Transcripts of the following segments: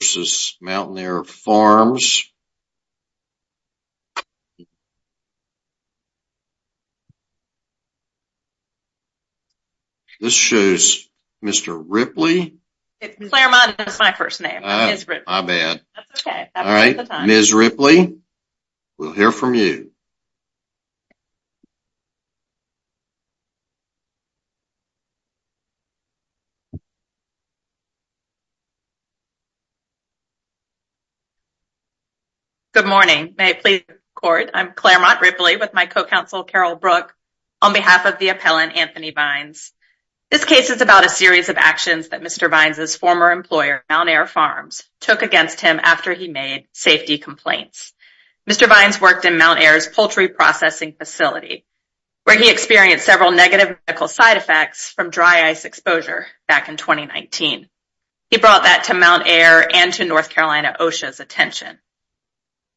This shows Mr. Ripley, Ms. Ripley, we'll hear from you. Good morning. May I please record? I'm Claremont Ripley with my co-counsel Carol Brook on behalf of the appellant Anthony Vines. This case is about a series of actions that Mr. Vines' former employer, Mountaire Farms, took against him after he made safety complaints. Mr. Vines worked in Mountaire's poultry processing facility, where he experienced several negative medical side effects from dry ice exposure back in 2019. He brought that to Mountaire and to North Carolina OSHA's attention.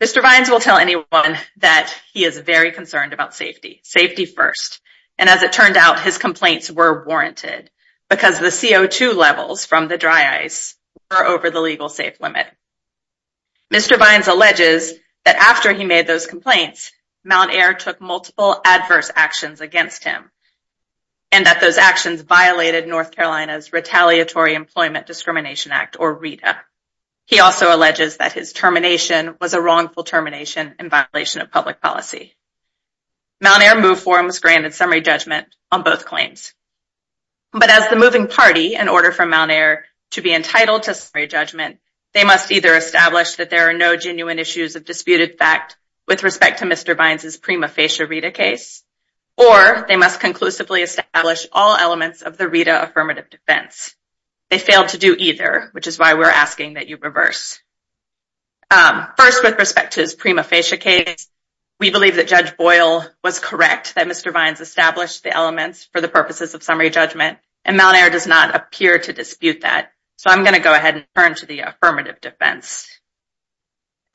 Mr. Vines will tell anyone that he is very concerned about safety. Safety first. And as it turned out, his complaints were warranted because the CO2 levels from the dry ice were over the legal safe limit. Mr. Vines alleges that after he made those complaints, Mountaire took multiple adverse actions against him and that those actions violated North Carolina's Retaliatory Employment Discrimination Act, or RETA. He also alleges that his termination was a wrongful termination in violation of public policy. Mountaire Move forms granted summary judgment on both claims. But as the moving party, in order for Mountaire to be entitled to summary judgment, they must either establish that there are no genuine issues of disputed fact with respect to Mr. Vines' prima facie RETA case, or they must conclusively establish all elements of the RETA affirmative defense. They failed to do either, which is why we're asking that you reverse. First, with respect to his prima facie case, we believe that Judge Boyle was correct, that Mr. Vines established the elements for the purposes of summary judgment, and Mountaire does not appear to dispute that. So I'm going to go ahead and turn to the affirmative defense.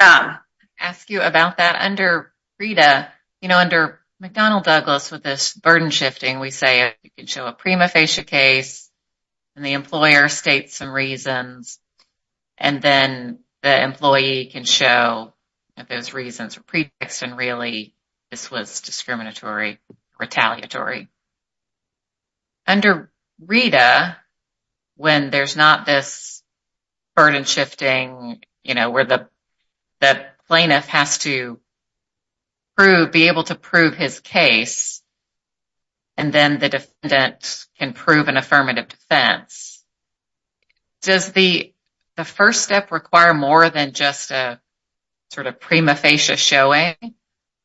I'm going to ask you about that under RETA. You know, under McDonnell-Douglas, with this burden shifting, we say you can show a prima facie case, and the employer states some reasons, and then the employee can show that those reasons were prefixed and really this was discriminatory, retaliatory. Under RETA, when there's not this burden shifting, you know, where the plaintiff has to be able to prove his case, and then the defendant can prove an affirmative defense, does the first step require more than just a sort of prima facie showing?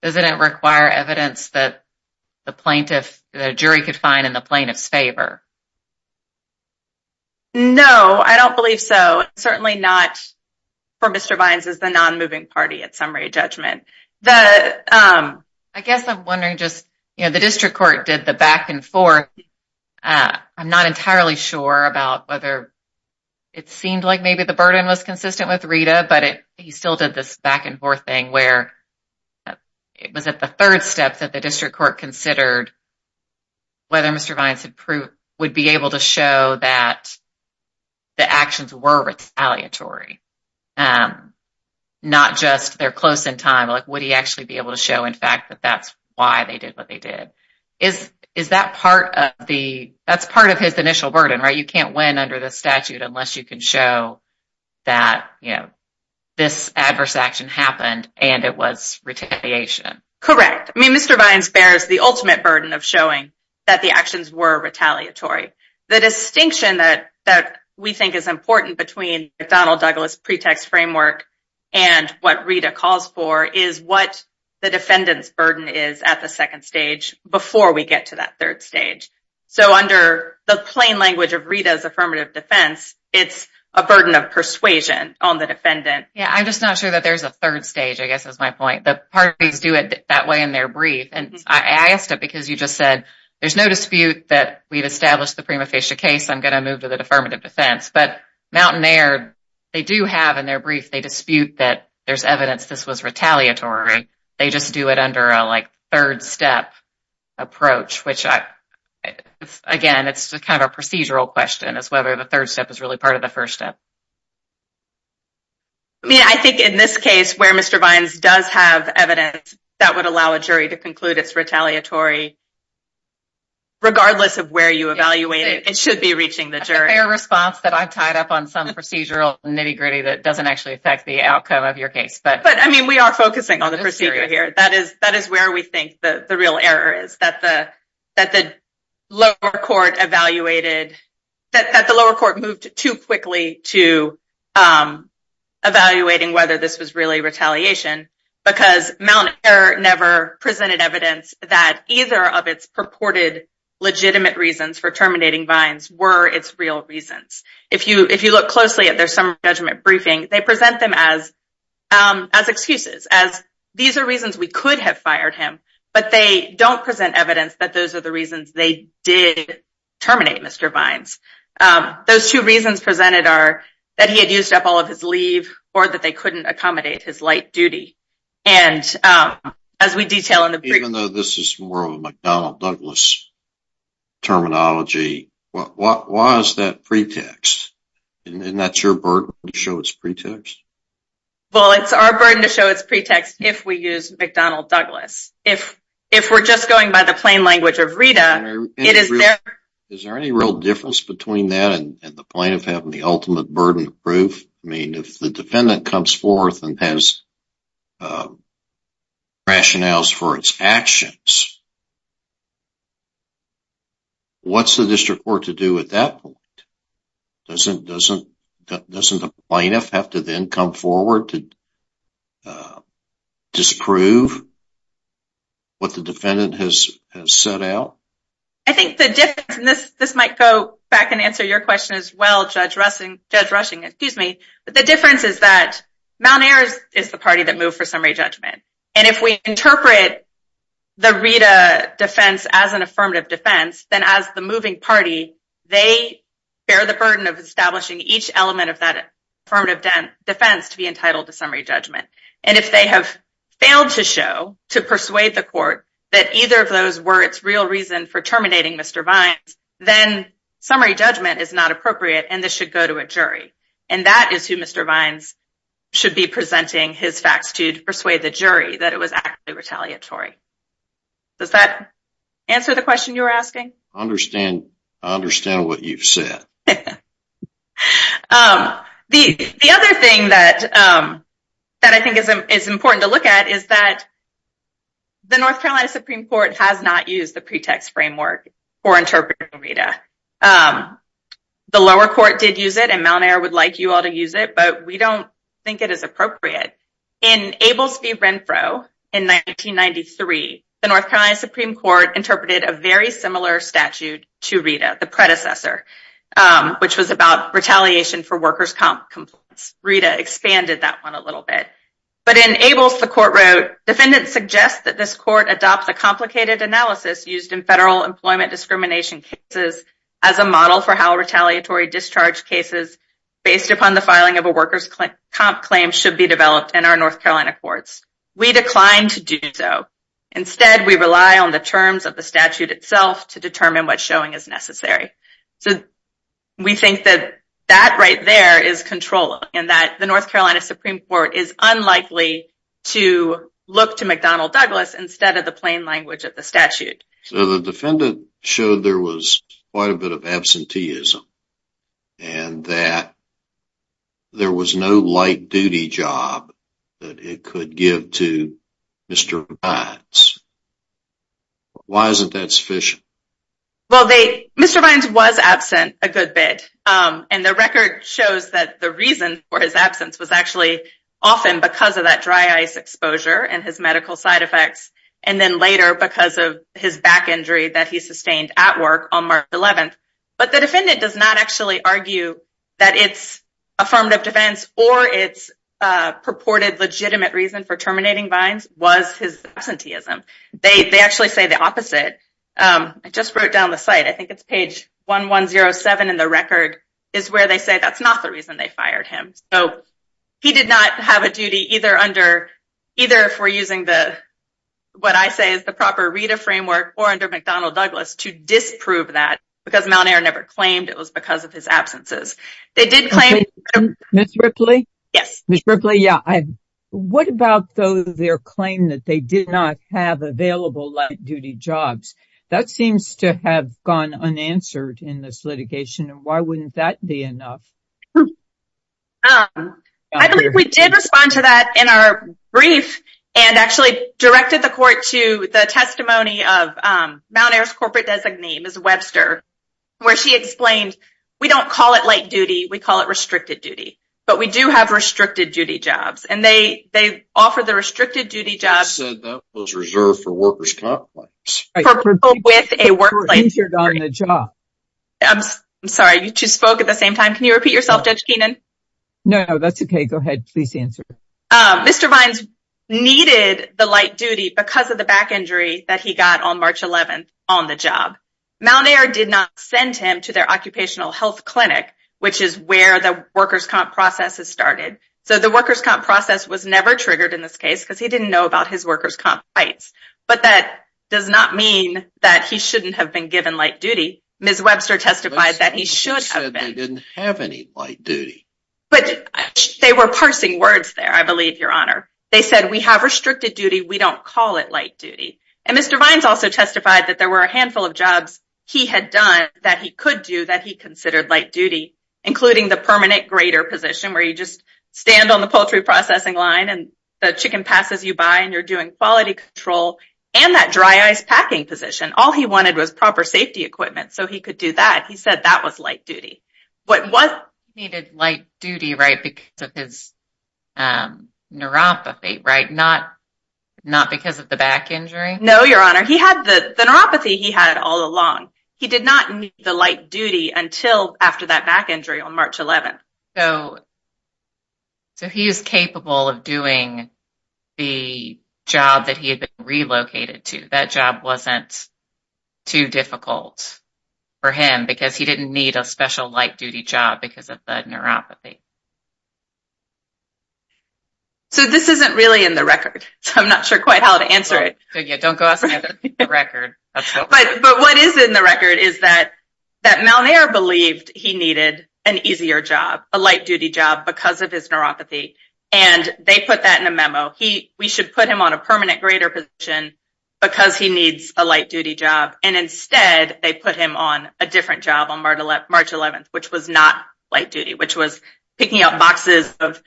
Does it require evidence that the jury could find in the plaintiff's favor? No, I don't believe so. Certainly not for Mr. Vines as the non-moving party at summary judgment. I guess I'm wondering just, you know, the district court did the back and forth. I'm not entirely sure about whether it seemed like maybe the burden was consistent with RETA, but he still did this back and forth thing where it was at the third step that the district court considered whether Mr. Vines would be able to show that the actions were retaliatory, not just they're close in time. Like, would he actually be able to show, in fact, that that's why they did what they did? Is that part of the, that's part of his initial burden, right? You can't win under the statute unless you can show that, you know, this adverse action happened and it was retaliation. Correct. I mean, Mr. Vines bears the ultimate burden of showing that the actions were retaliatory. The distinction that we think is important between Donald Douglas' pretext framework and what RETA calls for is what the defendant's burden is at the second stage before we get to that third stage. So under the plain language of RETA's affirmative defense, it's a burden of persuasion on the defendant. Yeah, I'm just not sure that there's a third stage, I guess, is my point. The parties do it that way in their brief. And I asked it because you just said there's no dispute that we've established the prima facie case. I'm going to move to the affirmative defense. But Mountain Air, they do have in their brief, they dispute that there's evidence this was retaliatory. They just do it under a, like, third step approach, which, again, it's kind of a procedural question as whether the third step is really part of the first step. I mean, I think in this case where Mr. Vines does have evidence that would allow a jury to conclude it's retaliatory, regardless of where you evaluate it, it should be reaching the jury. That's a fair response that I've tied up on some procedural nitty-gritty that doesn't actually affect the outcome of your case. But, I mean, we are focusing on the procedure here. That is where we think the real error is, that the lower court moved too quickly to evaluating whether this was really retaliation because Mountain Air never presented evidence that either of its purported legitimate reasons for terminating Vines were its real reasons. If you look closely at their summary judgment briefing, they present them as excuses, as these are reasons we could have fired him, but they don't present evidence that those are the reasons they did terminate Mr. Vines. Those two reasons presented are that he had used up all of his leave or that they couldn't accommodate his light duty. Even though this is more of a McDonnell Douglas terminology, why is that pretext? Isn't that your burden to show it's pretext? Well, it's our burden to show it's pretext if we use McDonnell Douglas. If we're just going by the plain language of Rita, it is their... Is there any real difference between that and the point of having the ultimate burden of proof? If the defendant comes forth and has rationales for its actions, what's the district court to do at that point? Doesn't the plaintiff have to then come forward to disprove what the defendant has set out? This might go back and answer your question as well, Judge Rushing. The difference is that Mount Air is the party that moved for summary judgment. If we interpret the Rita defense as an affirmative defense, then as the moving party, they bear the burden of establishing each element of that affirmative defense to be entitled to summary judgment. If they have failed to show, to persuade the court, that either of those were its real reason for terminating Mr. Vines, then summary judgment is not appropriate and this should go to a jury. That is who Mr. Vines should be presenting his facts to to persuade the jury that it was actually retaliatory. Does that answer the question you were asking? I understand what you've said. The other thing that I think is important to look at is that the North Carolina Supreme Court has not used the pretext framework for interpreting Rita. The lower court did use it and Mount Air would like you all to use it, but we don't think it is appropriate. In Ables v. Renfro in 1993, the North Carolina Supreme Court interpreted a very similar statute to Rita, the predecessor. Which was about retaliation for workers' comp complaints. Rita expanded that one a little bit. But in Ables, the court wrote, Defendants suggest that this court adopt the complicated analysis used in federal employment discrimination cases as a model for how retaliatory discharge cases based upon the filing of a workers' comp claim should be developed in our North Carolina courts. We decline to do so. Instead, we rely on the terms of the statute itself to determine what showing is necessary. So we think that that right there is controlling. And that the North Carolina Supreme Court is unlikely to look to McDonnell Douglas instead of the plain language of the statute. So the defendant showed there was quite a bit of absenteeism. And that there was no light duty job that it could give to Mr. Vines. Why isn't that sufficient? Well, Mr. Vines was absent a good bit. And the record shows that the reason for his absence was actually often because of that dry ice exposure and his medical side effects. And then later because of his back injury that he sustained at work on March 11th. But the defendant does not actually argue that it's affirmative defense or it's purported legitimate reason for terminating Vines was his absenteeism. They actually say the opposite. I just wrote down the site. I think it's page 1107 in the record is where they say that's not the reason they fired him. So he did not have a duty either for using what I say is the proper RETA framework or under McDonnell Douglas to disprove that. Because Mount Air never claimed it was because of his absences. Ms. Ripley? Yes. Ms. Ripley, what about their claim that they did not have available light duty jobs? That seems to have gone unanswered in this litigation. Why wouldn't that be enough? I believe we did respond to that in our brief and actually directed the court to the testimony of Mount Air's corporate designee, Ms. Webster. Where she explained we don't call it light duty. We call it restricted duty. But we do have restricted duty jobs. And they offer the restricted duty jobs. You said that was reserved for workers' complex. For people with a workplace. I'm sorry, you two spoke at the same time. Can you repeat yourself, Judge Keenan? No, that's okay. Go ahead. Please answer. Mr. Vines needed the light duty because of the back injury that he got on March 11th on the job. Mount Air did not send him to their occupational health clinic, which is where the workers' comp process has started. So the workers' comp process was never triggered in this case because he didn't know about his workers' comp rights. But that does not mean that he shouldn't have been given light duty. Ms. Webster testified that he should have been. Ms. Webster said they didn't have any light duty. But they were parsing words there, I believe, Your Honor. They said we have restricted duty. We don't call it light duty. And Mr. Vines also testified that there were a handful of jobs he had done that he could do that he considered light duty. Including the permanent grader position where you just stand on the poultry processing line and the chicken passes you by and you're doing quality control. And that dry ice packing position. All he wanted was proper safety equipment so he could do that. He said that was light duty. He needed light duty because of his neuropathy, right? Not because of the back injury? No, Your Honor. The neuropathy he had all along. He did not need the light duty until after that back injury on March 11th. So he was capable of doing the job that he had been relocated to. That job wasn't too difficult for him because he didn't need a special light duty job because of the neuropathy. So this isn't really in the record. I'm not sure quite how to answer it. Don't go asking for the record. But what is in the record is that Malnair believed he needed an easier job, a light duty job, because of his neuropathy. And they put that in a memo. We should put him on a permanent grader position because he needs a light duty job. And instead, they put him on a different job on March 11th, which was not light duty, which was picking up boxes of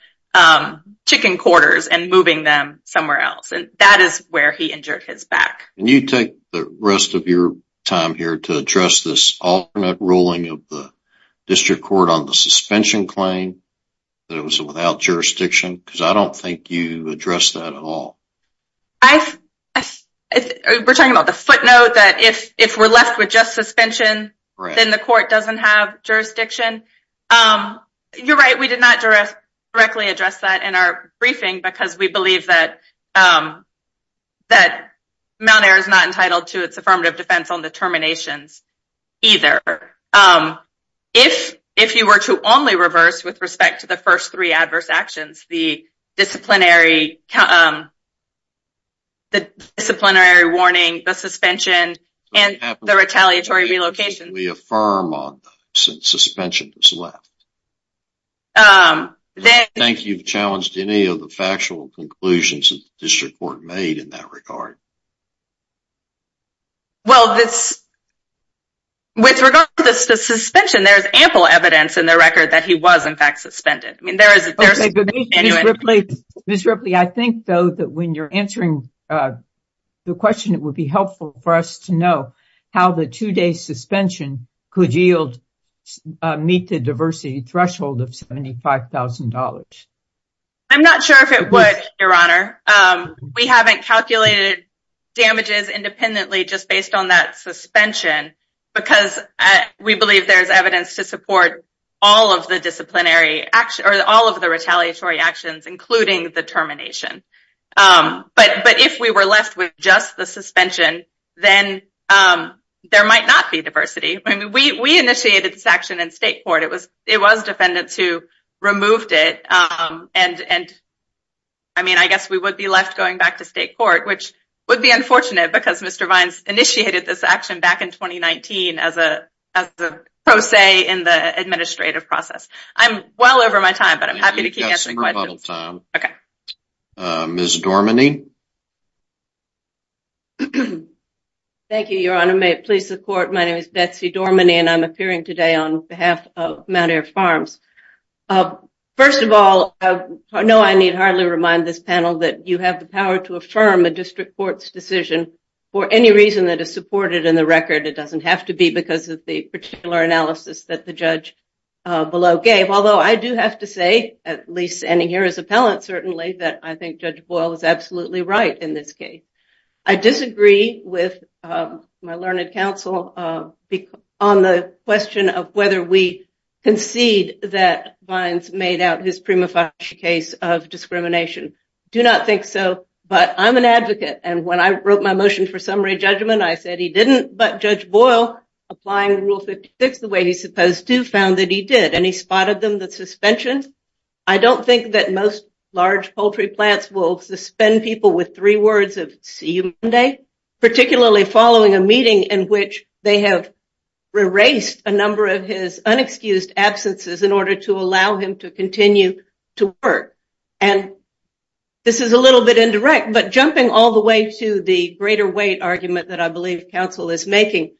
chicken quarters and moving them somewhere else. And that is where he injured his back. Can you take the rest of your time here to address this alternate ruling of the district court on the suspension claim that it was without jurisdiction? Because I don't think you addressed that at all. We're talking about the footnote that if we're left with just suspension, then the court doesn't have jurisdiction. You're right. We did not directly address that in our briefing because we believe that Malnair is not entitled to its affirmative defense on the terminations either. If you were to only reverse with respect to the first three adverse actions, the disciplinary warning, the suspension, and the retaliatory relocation. We affirm on the suspension is left. I don't think you've challenged any of the factual conclusions that the district court made in that regard. Well, with regard to the suspension, there's ample evidence in the record that he was, in fact, suspended. Ms. Ripley, I think, though, that when you're answering the question, it would be helpful for us to know how the two-day suspension could meet the diversity threshold of $75,000. I'm not sure if it would, Your Honor. We haven't calculated damages independently just based on that suspension because we believe there's evidence to support all of the retaliatory actions, including the termination. But if we were left with just the suspension, then there might not be diversity. We initiated this action in state court. It was defendants who removed it. I mean, I guess we would be left going back to state court, which would be unfortunate because Mr. Vines initiated this action back in 2019 as a pro se in the administrative process. I'm well over my time, but I'm happy to keep answering questions. You've got some rebuttal time. Okay. Ms. Dorminey. Thank you, Your Honor. May it please the court, my name is Betsy Dorminey, and I'm appearing today on behalf of Mount Air Farms. First of all, I know I need hardly remind this panel that you have the power to affirm a district court's decision for any reason that is supported in the record. It doesn't have to be because of the particular analysis that the judge below gave. Although I do have to say, at least ending here as appellant, certainly, that I think Judge Boyle is absolutely right in this case. I disagree with my learned counsel on the question of whether we concede that Vines made out his prima facie case of discrimination. I do not think so, but I'm an advocate, and when I wrote my motion for summary judgment, I said he didn't. But Judge Boyle, applying Rule 56 the way he's supposed to, found that he did, and he spotted them, the suspension. I don't think that most large poultry plants will suspend people with three words of see you Monday, particularly following a meeting in which they have erased a number of his unexcused absences in order to allow him to continue to work. And this is a little bit indirect, but jumping all the way to the greater weight argument that I believe counsel is making.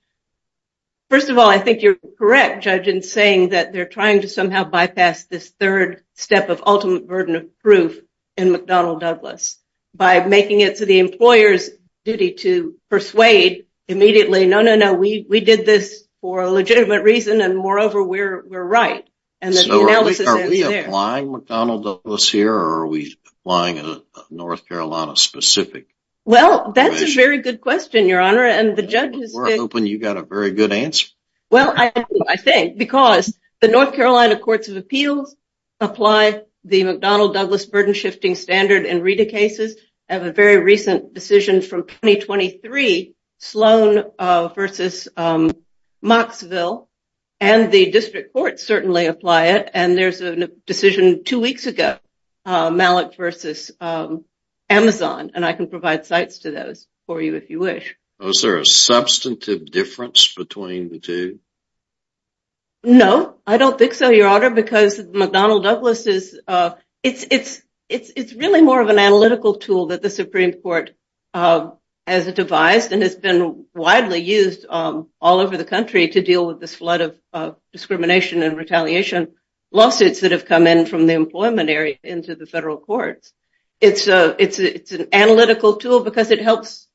First of all, I think you're correct, Judge, in saying that they're trying to somehow bypass this third step of ultimate burden of proof in McDonnell-Douglas. By making it to the employer's duty to persuade immediately, no, no, no, we did this for a legitimate reason, and moreover, we're right. So are we applying McDonnell-Douglas here, or are we applying a North Carolina-specific? Well, that's a very good question, Your Honor, and the judge is. We're hoping you got a very good answer. Well, I think because the North Carolina Courts of Appeals apply the McDonnell-Douglas burden-shifting standard in RETA cases. I have a very recent decision from 2023, Sloan v. Moxville, and the district courts certainly apply it. And there's a decision two weeks ago, Malik v. Amazon, and I can provide sites to those for you if you wish. Is there a substantive difference between the two? No, I don't think so, Your Honor, because McDonnell-Douglas is, it's really more of an analytical tool that the Supreme Court has devised and has been widely used all over the country to deal with this flood of discrimination and retaliation lawsuits that have come in from the employment area into the federal courts. It's an analytical tool because it helps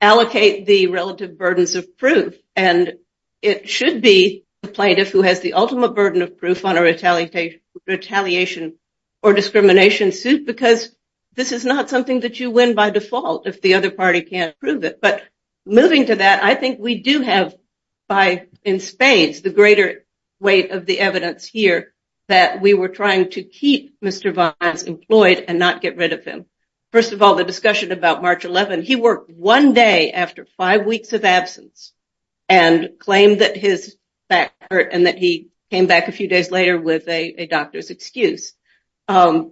allocate the relative burdens of proof, and it should be the plaintiff who has the ultimate burden of proof on a retaliation or discrimination suit because this is not something that you win by default if the other party can't prove it. But moving to that, I think we do have, in spades, the greater weight of the evidence here that we were trying to keep Mr. Vines employed and not get rid of him. First of all, the discussion about March 11, he worked one day after five weeks of absence and claimed that his back hurt and that he came back a few days later with a doctor's excuse. It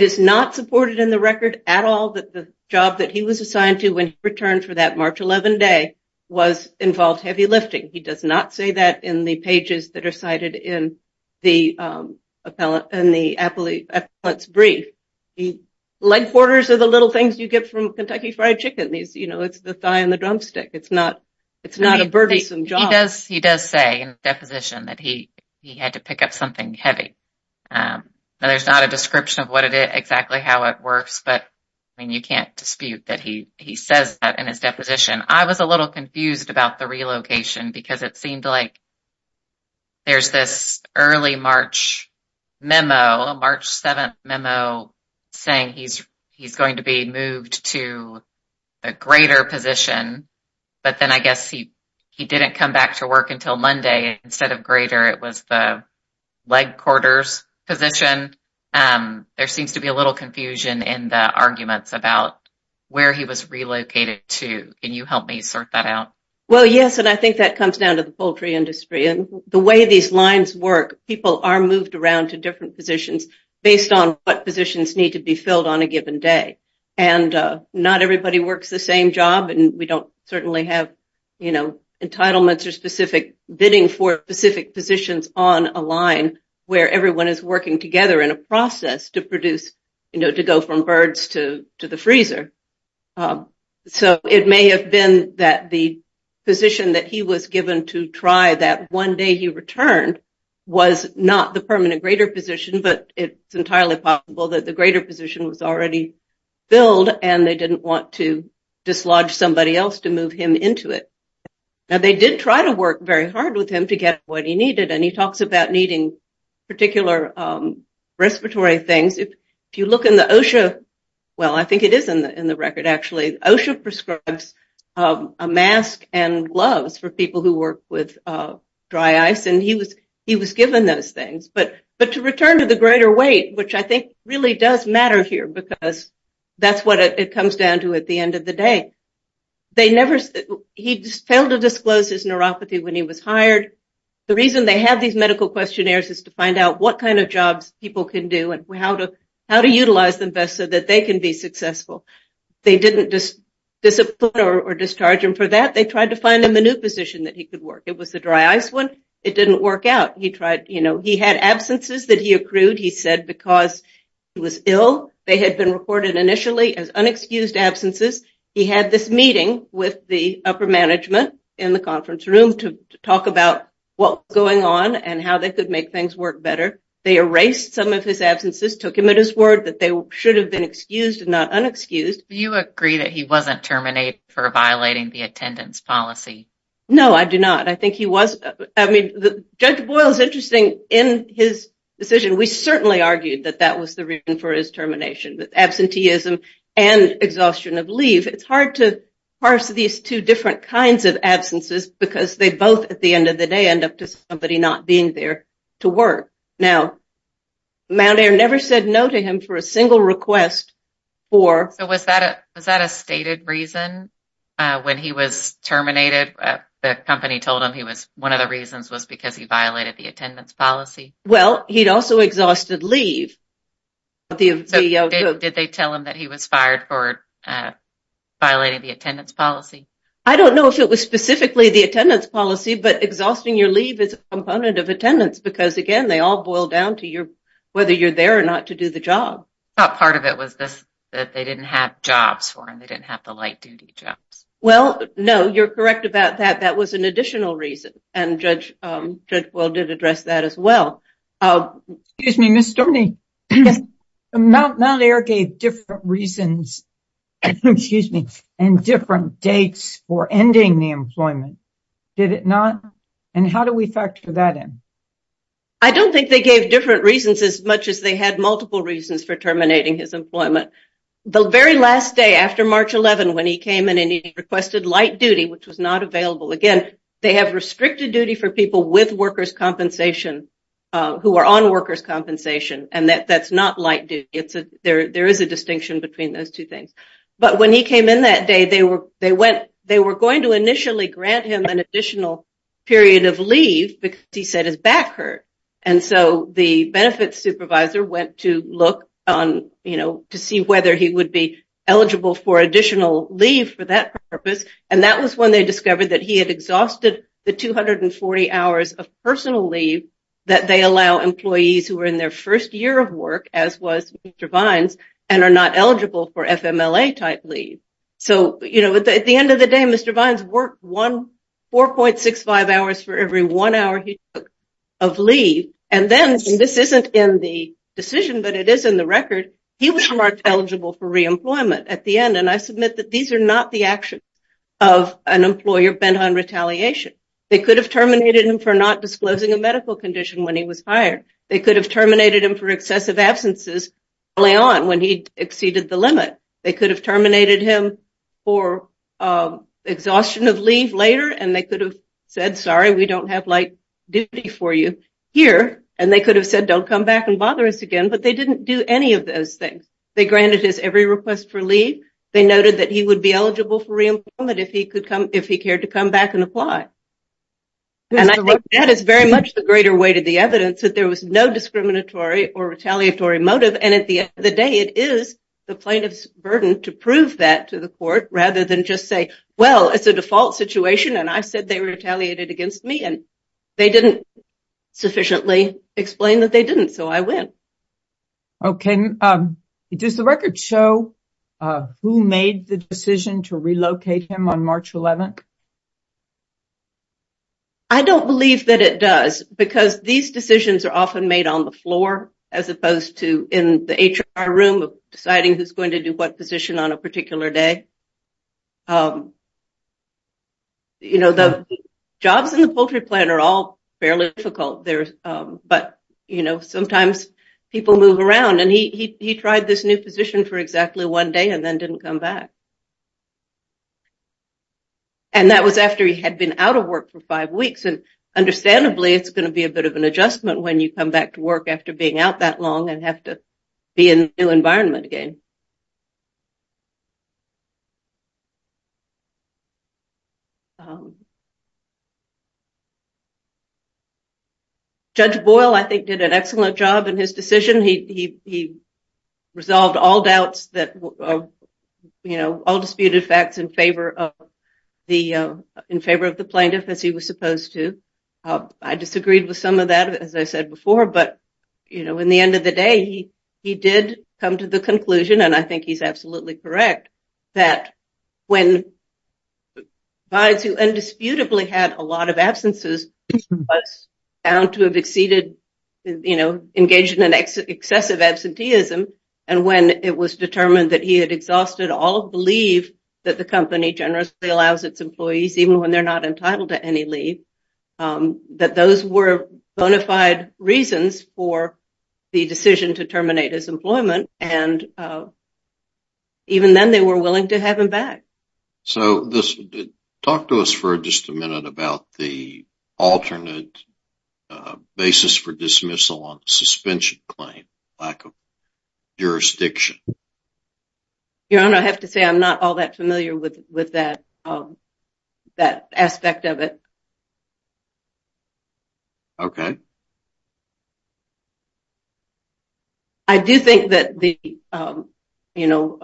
is not supported in the record at all that the job that he was assigned to when he returned for that March 11 day was involved heavy lifting. He does not say that in the pages that are cited in the appellate's brief. Leg quarters are the little things you get from Kentucky Fried Chicken. It's the thigh and the drumstick. It's not a burdensome job. He does say in his deposition that he had to pick up something heavy. There's not a description of exactly how it works, but you can't dispute that he says that in his deposition. I was a little confused about the relocation because it seemed like there's this early March memo, a March 7 memo saying he's going to be moved to a greater position, but then I guess he didn't come back to work until Monday. Instead of greater, it was the leg quarters position. There seems to be a little confusion in the arguments about where he was relocated to. Can you help me sort that out? Well, yes, and I think that comes down to the poultry industry and the way these lines work. People are moved around to different positions based on what positions need to be filled on a given day. And not everybody works the same job, and we don't certainly have, you know, entitlements or specific bidding for specific positions on a line where everyone is working together in a process to produce, you know, to go from birds to the freezer. So it may have been that the position that he was given to try that one day he returned was not the permanent greater position, but it's entirely possible that the greater position was already filled and they didn't want to dislodge somebody else to move him into it. Now, they did try to work very hard with him to get what he needed, and he talks about needing particular respiratory things. If you look in the OSHA, well, I think it is in the record, actually. OSHA prescribes a mask and gloves for people who work with dry ice, and he was given those things. But to return to the greater weight, which I think really does matter here because that's what it comes down to at the end of the day, he failed to disclose his neuropathy when he was hired. The reason they have these medical questionnaires is to find out what kind of jobs people can do and how to utilize them best so that they can be successful. They didn't discipline or discharge him for that. They tried to find him a new position that he could work. It was the dry ice one. It didn't work out. He tried, you know, he had absences that he accrued, he said, because he was ill. They had been reported initially as unexcused absences. He had this meeting with the upper management in the conference room to talk about what was going on and how they could make things work better. They erased some of his absences, took him at his word that they should have been excused and not unexcused. Do you agree that he wasn't terminated for violating the attendance policy? No, I do not. I think he was. I mean, Judge Boyle is interesting in his decision. We certainly argued that that was the reason for his termination, with absenteeism and exhaustion of leave. It's hard to parse these two different kinds of absences because they both, at the end of the day, end up to somebody not being there to work. Now, Mount Air never said no to him for a single request. So was that a stated reason when he was terminated? The company told him one of the reasons was because he violated the attendance policy. Well, he'd also exhausted leave. Did they tell him that he was fired for violating the attendance policy? I don't know if it was specifically the attendance policy, but exhausting your leave is a component of attendance because, again, they all boil down to whether you're there or not to do the job. I thought part of it was that they didn't have jobs for him. They didn't have the light-duty jobs. Well, no, you're correct about that. That was an additional reason, and Judge Boyle did address that as well. Excuse me, Ms. Stoney, Mount Air gave different reasons and different dates for ending the employment, did it not? And how do we factor that in? I don't think they gave different reasons as much as they had multiple reasons for terminating his employment. The very last day after March 11, when he came in and he requested light duty, which was not available, again, they have restricted duty for people with workers' compensation, who are on workers' compensation, and that's not light duty. There is a distinction between those two things. But when he came in that day, they were going to initially grant him an additional period of leave because he said his back hurt, and so the benefits supervisor went to look to see whether he would be eligible for additional leave for that purpose, and that was when they discovered that he had exhausted the 240 hours of personal leave that they allow employees who are in their first year of work, as was Mr. Vines, and are not eligible for FMLA-type leave. So, you know, at the end of the day, Mr. Vines worked 4.65 hours for every one hour he took of leave, and then, and this isn't in the decision, but it is in the record, he was marked eligible for reemployment at the end, and I submit that these are not the actions of an employer bent on retaliation. They could have terminated him for not disclosing a medical condition when he was hired. They could have terminated him for excessive absences early on when he exceeded the limit. They could have terminated him for exhaustion of leave later, and they could have said, sorry, we don't have light duty for you here, and they could have said, don't come back and bother us again, but they didn't do any of those things. They granted his every request for leave. They noted that he would be eligible for reemployment if he cared to come back and apply, and I think that is very much the greater weight of the evidence, that there was no discriminatory or retaliatory motive, and at the end of the day, it is the plaintiff's burden to prove that to the court rather than just say, well, it's a default situation, and I said they retaliated against me, and they didn't sufficiently explain that they didn't, so I win. Okay. Does the record show who made the decision to relocate him on March 11th? I don't believe that it does because these decisions are often made on the floor as opposed to in the HR room, deciding who's going to do what position on a particular day. You know, the jobs in the poultry plant are all fairly difficult, but, you know, sometimes people move around, and he tried this new position for exactly one day and then didn't come back, and that was after he had been out of work for five weeks, and understandably it's going to be a bit of an adjustment when you come back to work after being out that long and have to be in a new environment again. Judge Boyle, I think, did an excellent job in his decision. He resolved all doubts that, you know, all disputed facts in favor of the plaintiff as he was supposed to. I disagreed with some of that, as I said before, but, you know, in the end of the day, he did come to the conclusion, and I think he's absolutely correct, that when clients who indisputably had a lot of absences, he was found to have exceeded, you know, engaged in an excessive absenteeism, and when it was determined that he had exhausted all of the leave that the company generously allows its employees, even when they're not entitled to any leave, that those were bona fide reasons for the decision to terminate his employment, and even then they were willing to have him back. So talk to us for just a minute about the alternate basis for dismissal on suspension claim, lack of jurisdiction. Your Honor, I have to say I'm not all that familiar with that aspect of it. Okay. I do think that the, you know,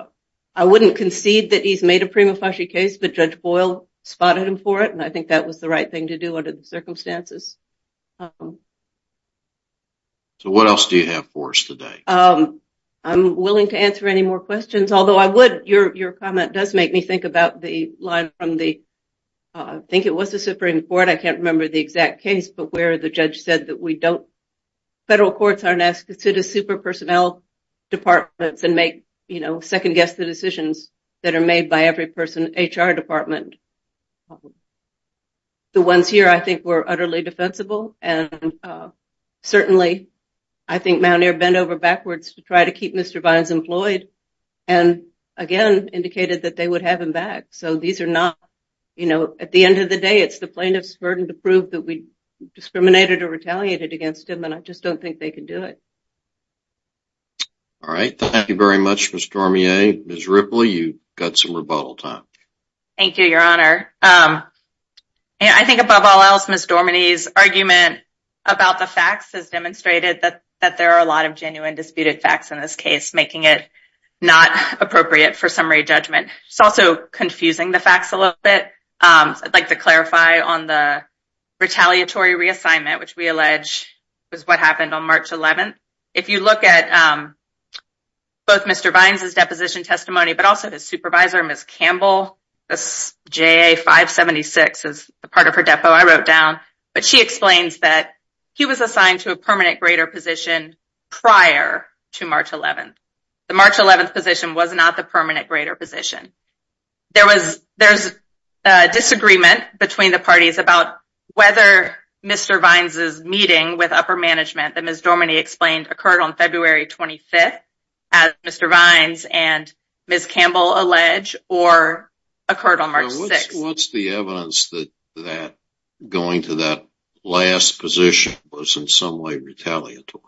I wouldn't concede that he's made a prima facie case, but Judge Boyle spotted him for it, and I think that was the right thing to do under the circumstances. So what else do you have for us today? I'm willing to answer any more questions, although I would, your comment does make me think about the line from the, I think it was the Supreme Court, I can't remember the exact case, but where the judge said that we don't, federal courts aren't asked to consider super personnel departments and make, you know, second-guess the decisions that are made by every HR department. The ones here I think were utterly defensible, and certainly I think Mount Air bent over backwards to try to keep Mr. Vines employed, and again indicated that they would have him back. So these are not, you know, at the end of the day, it's the plaintiff's burden to prove that we discriminated or retaliated against him, and I just don't think they can do it. All right. Thank you very much, Ms. Dormier. Ms. Ripley, you've got some rebuttal time. Thank you, Your Honor. I think above all else, Ms. Dormier's argument about the facts has demonstrated that there are a lot of genuine disputed facts in this case, making it not appropriate for summary judgment. It's also confusing the facts a little bit. I'd like to clarify on the retaliatory reassignment, which we allege was what happened on March 11th. If you look at both Mr. Vines' deposition testimony, but also his supervisor, Ms. Campbell, this JA576 is the part of her depo I wrote down, but she explains that he was assigned to a permanent grader position prior to March 11th. The March 11th position was not the permanent grader position. There was disagreement between the parties about whether Mr. Vines' meeting with upper management that Ms. Dormier explained occurred on February 25th, as Mr. Vines and Ms. Campbell allege, or occurred on March 6th. What's the evidence that going to that last position was in some way retaliatory?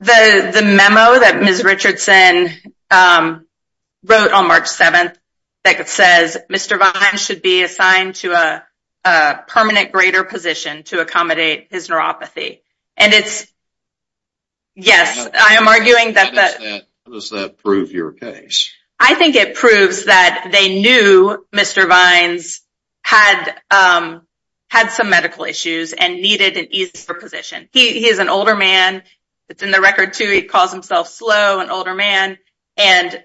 The memo that Ms. Richardson wrote on March 7th that says Mr. Vines should be assigned to a permanent grader position to accommodate his neuropathy. And it's, yes, I am arguing that... How does that prove your case? I think it proves that they knew Mr. Vines had some medical issues and needed an easier position. He is an older man. It's in the record, too, he calls himself slow, an older man. And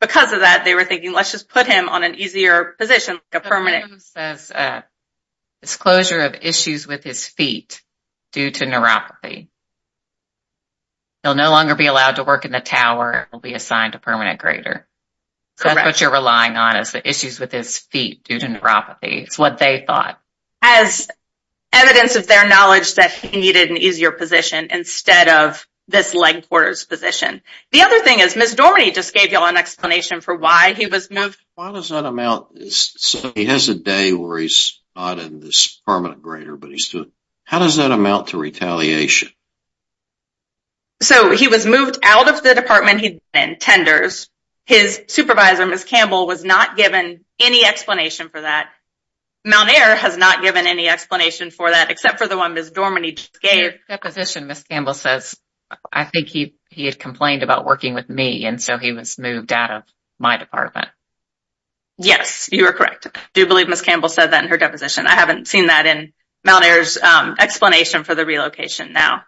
because of that, they were thinking, let's just put him on an easier position, a permanent. The memo says disclosure of issues with his feet due to neuropathy. He'll no longer be allowed to work in the tower. He'll be assigned a permanent grader. Correct. So that's what you're relying on is the issues with his feet due to neuropathy. It's what they thought. As evidence of their knowledge that he needed an easier position instead of this leg quarters position. The other thing is Ms. Dormier just gave you all an explanation for why he was moved. Why does that amount? He has a day where he's not in this permanent grader, but he's still... How does that amount to retaliation? So he was moved out of the department he'd been in, tenders. His supervisor, Ms. Campbell, was not given any explanation for that. Malnair has not given any explanation for that except for the one Ms. Dormier just gave. In her deposition, Ms. Campbell says, I think he had complained about working with me and so he was moved out of my department. Yes, you are correct. I do believe Ms. Campbell said that in her deposition. I haven't seen that in Malnair's explanation for the relocation now.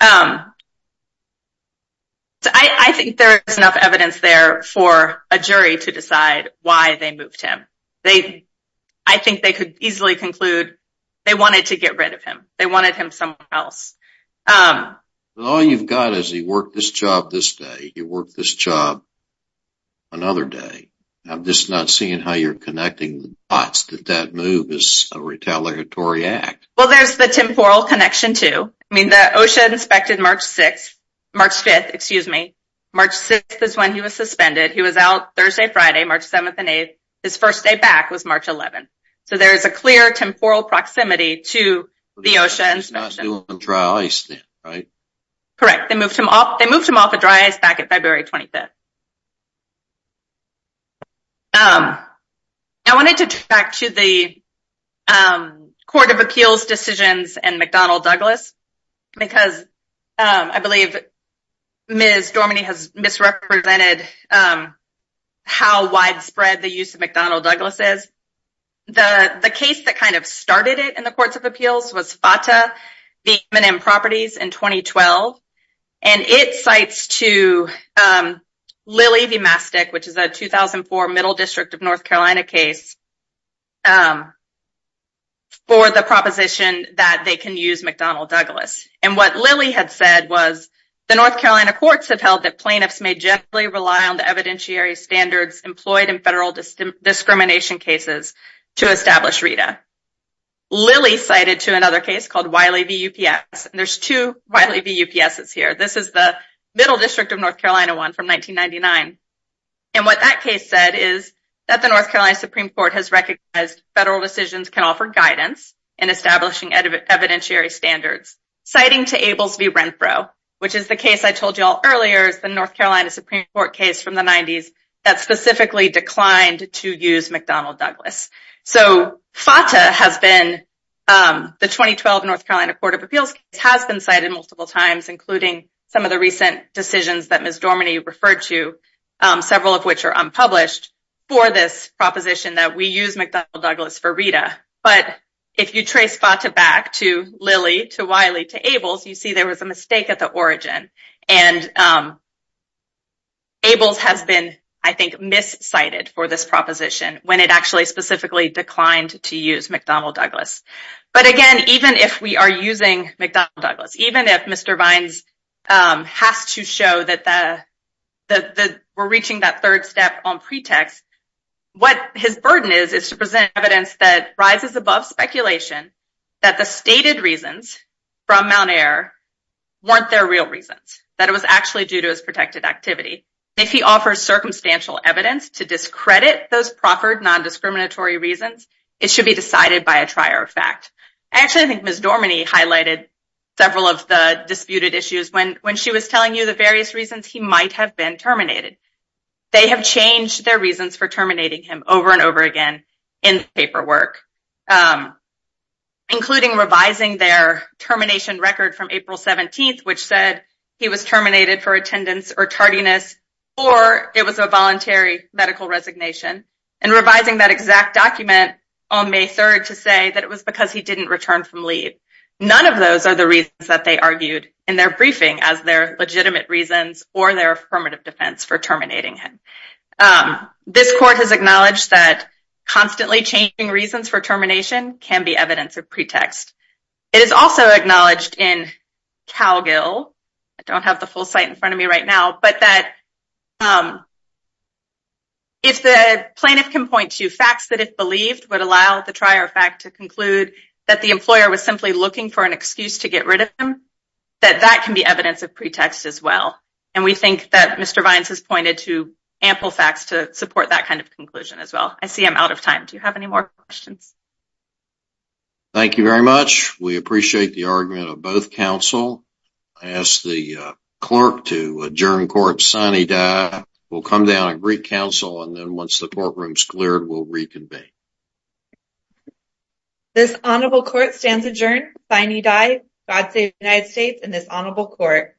I think there is enough evidence there for a jury to decide why they moved him. I think they could easily conclude they wanted to get rid of him. They wanted him somewhere else. All you've got is he worked this job this day, he worked this job another day. I'm just not seeing how you're connecting the dots that that move is a retaliatory act. Well, there's the temporal connection too. I mean, OSHA inspected March 5th. March 6th is when he was suspended. He was out Thursday, Friday, March 7th and 8th. His first day back was March 11th. So there is a clear temporal proximity to the OSHA inspection. He was still on dry ice then, right? Correct. They moved him off of dry ice back on February 25th. I wanted to go back to the Court of Appeals decisions and McDonnell Douglas. Because I believe Ms. Dorminey has misrepresented how widespread the use of McDonnell Douglas is. The case that kind of started it in the Courts of Appeals was FATA, the M&M Properties, in 2012. And it cites to Lilly V. Mastic, which is a 2004 Middle District of North Carolina case, for the proposition that they can use McDonnell Douglas. And what Lilly had said was, The North Carolina courts have held that plaintiffs may generally rely on the evidentiary standards employed in federal discrimination cases to establish RETA. Lilly cited to another case called Wiley v. UPS. There's two Wiley v. UPSs here. This is the Middle District of North Carolina one from 1999. And what that case said is that the North Carolina Supreme Court has recognized federal decisions can offer guidance in establishing evidentiary standards. Citing to Ables v. Renfro, which is the case I told you all earlier, the North Carolina Supreme Court case from the 90s, that specifically declined to use McDonnell Douglas. So FATA has been, the 2012 North Carolina Court of Appeals has been cited multiple times, including some of the recent decisions that Ms. Dorminey referred to, several of which are unpublished, for this proposition that we use McDonnell Douglas for RETA. But if you trace FATA back to Lilly, to Wiley, to Ables, you see there was a mistake at the origin. And Ables has been, I think, miscited for this proposition when it actually specifically declined to use McDonnell Douglas. But again, even if we are using McDonnell Douglas, even if Mr. Vines has to show that we're reaching that third step on pretext, what his burden is is to present evidence that rises above speculation that the stated reasons from Mount Air weren't their real reasons, that it was actually due to his protected activity. If he offers circumstantial evidence to discredit those proffered nondiscriminatory reasons, it should be decided by a trier of fact. Actually, I think Ms. Dorminey highlighted several of the disputed issues when she was telling you the various reasons he might have been terminated. They have changed their reasons for terminating him over and over again in the paperwork, including revising their termination record from April 17th, which said he was terminated for attendance or tardiness, or it was a voluntary medical resignation, and revising that exact document on May 3rd to say that it was because he didn't return from leave. None of those are the reasons that they argued in their briefing as their legitimate reasons or their affirmative defense for terminating him. This court has acknowledged that constantly changing reasons for termination can be evidence of pretext. It is also acknowledged in CalGIL, I don't have the full site in front of me right now, but that if the plaintiff can point to facts that it believed would allow the trier of fact to conclude that the employer was simply looking for an excuse to get rid of him, that that can be evidence of pretext as well. And we think that Mr. Vines has pointed to ample facts to support that kind of conclusion as well. I see I'm out of time. Do you have any more questions? Thank you very much. We appreciate the argument of both counsel. I ask the clerk to adjourn court sine die. We'll come down and greet counsel, and then once the courtroom is cleared, we'll reconvene. This honorable court stands adjourned sine die. God save the United States and this honorable court.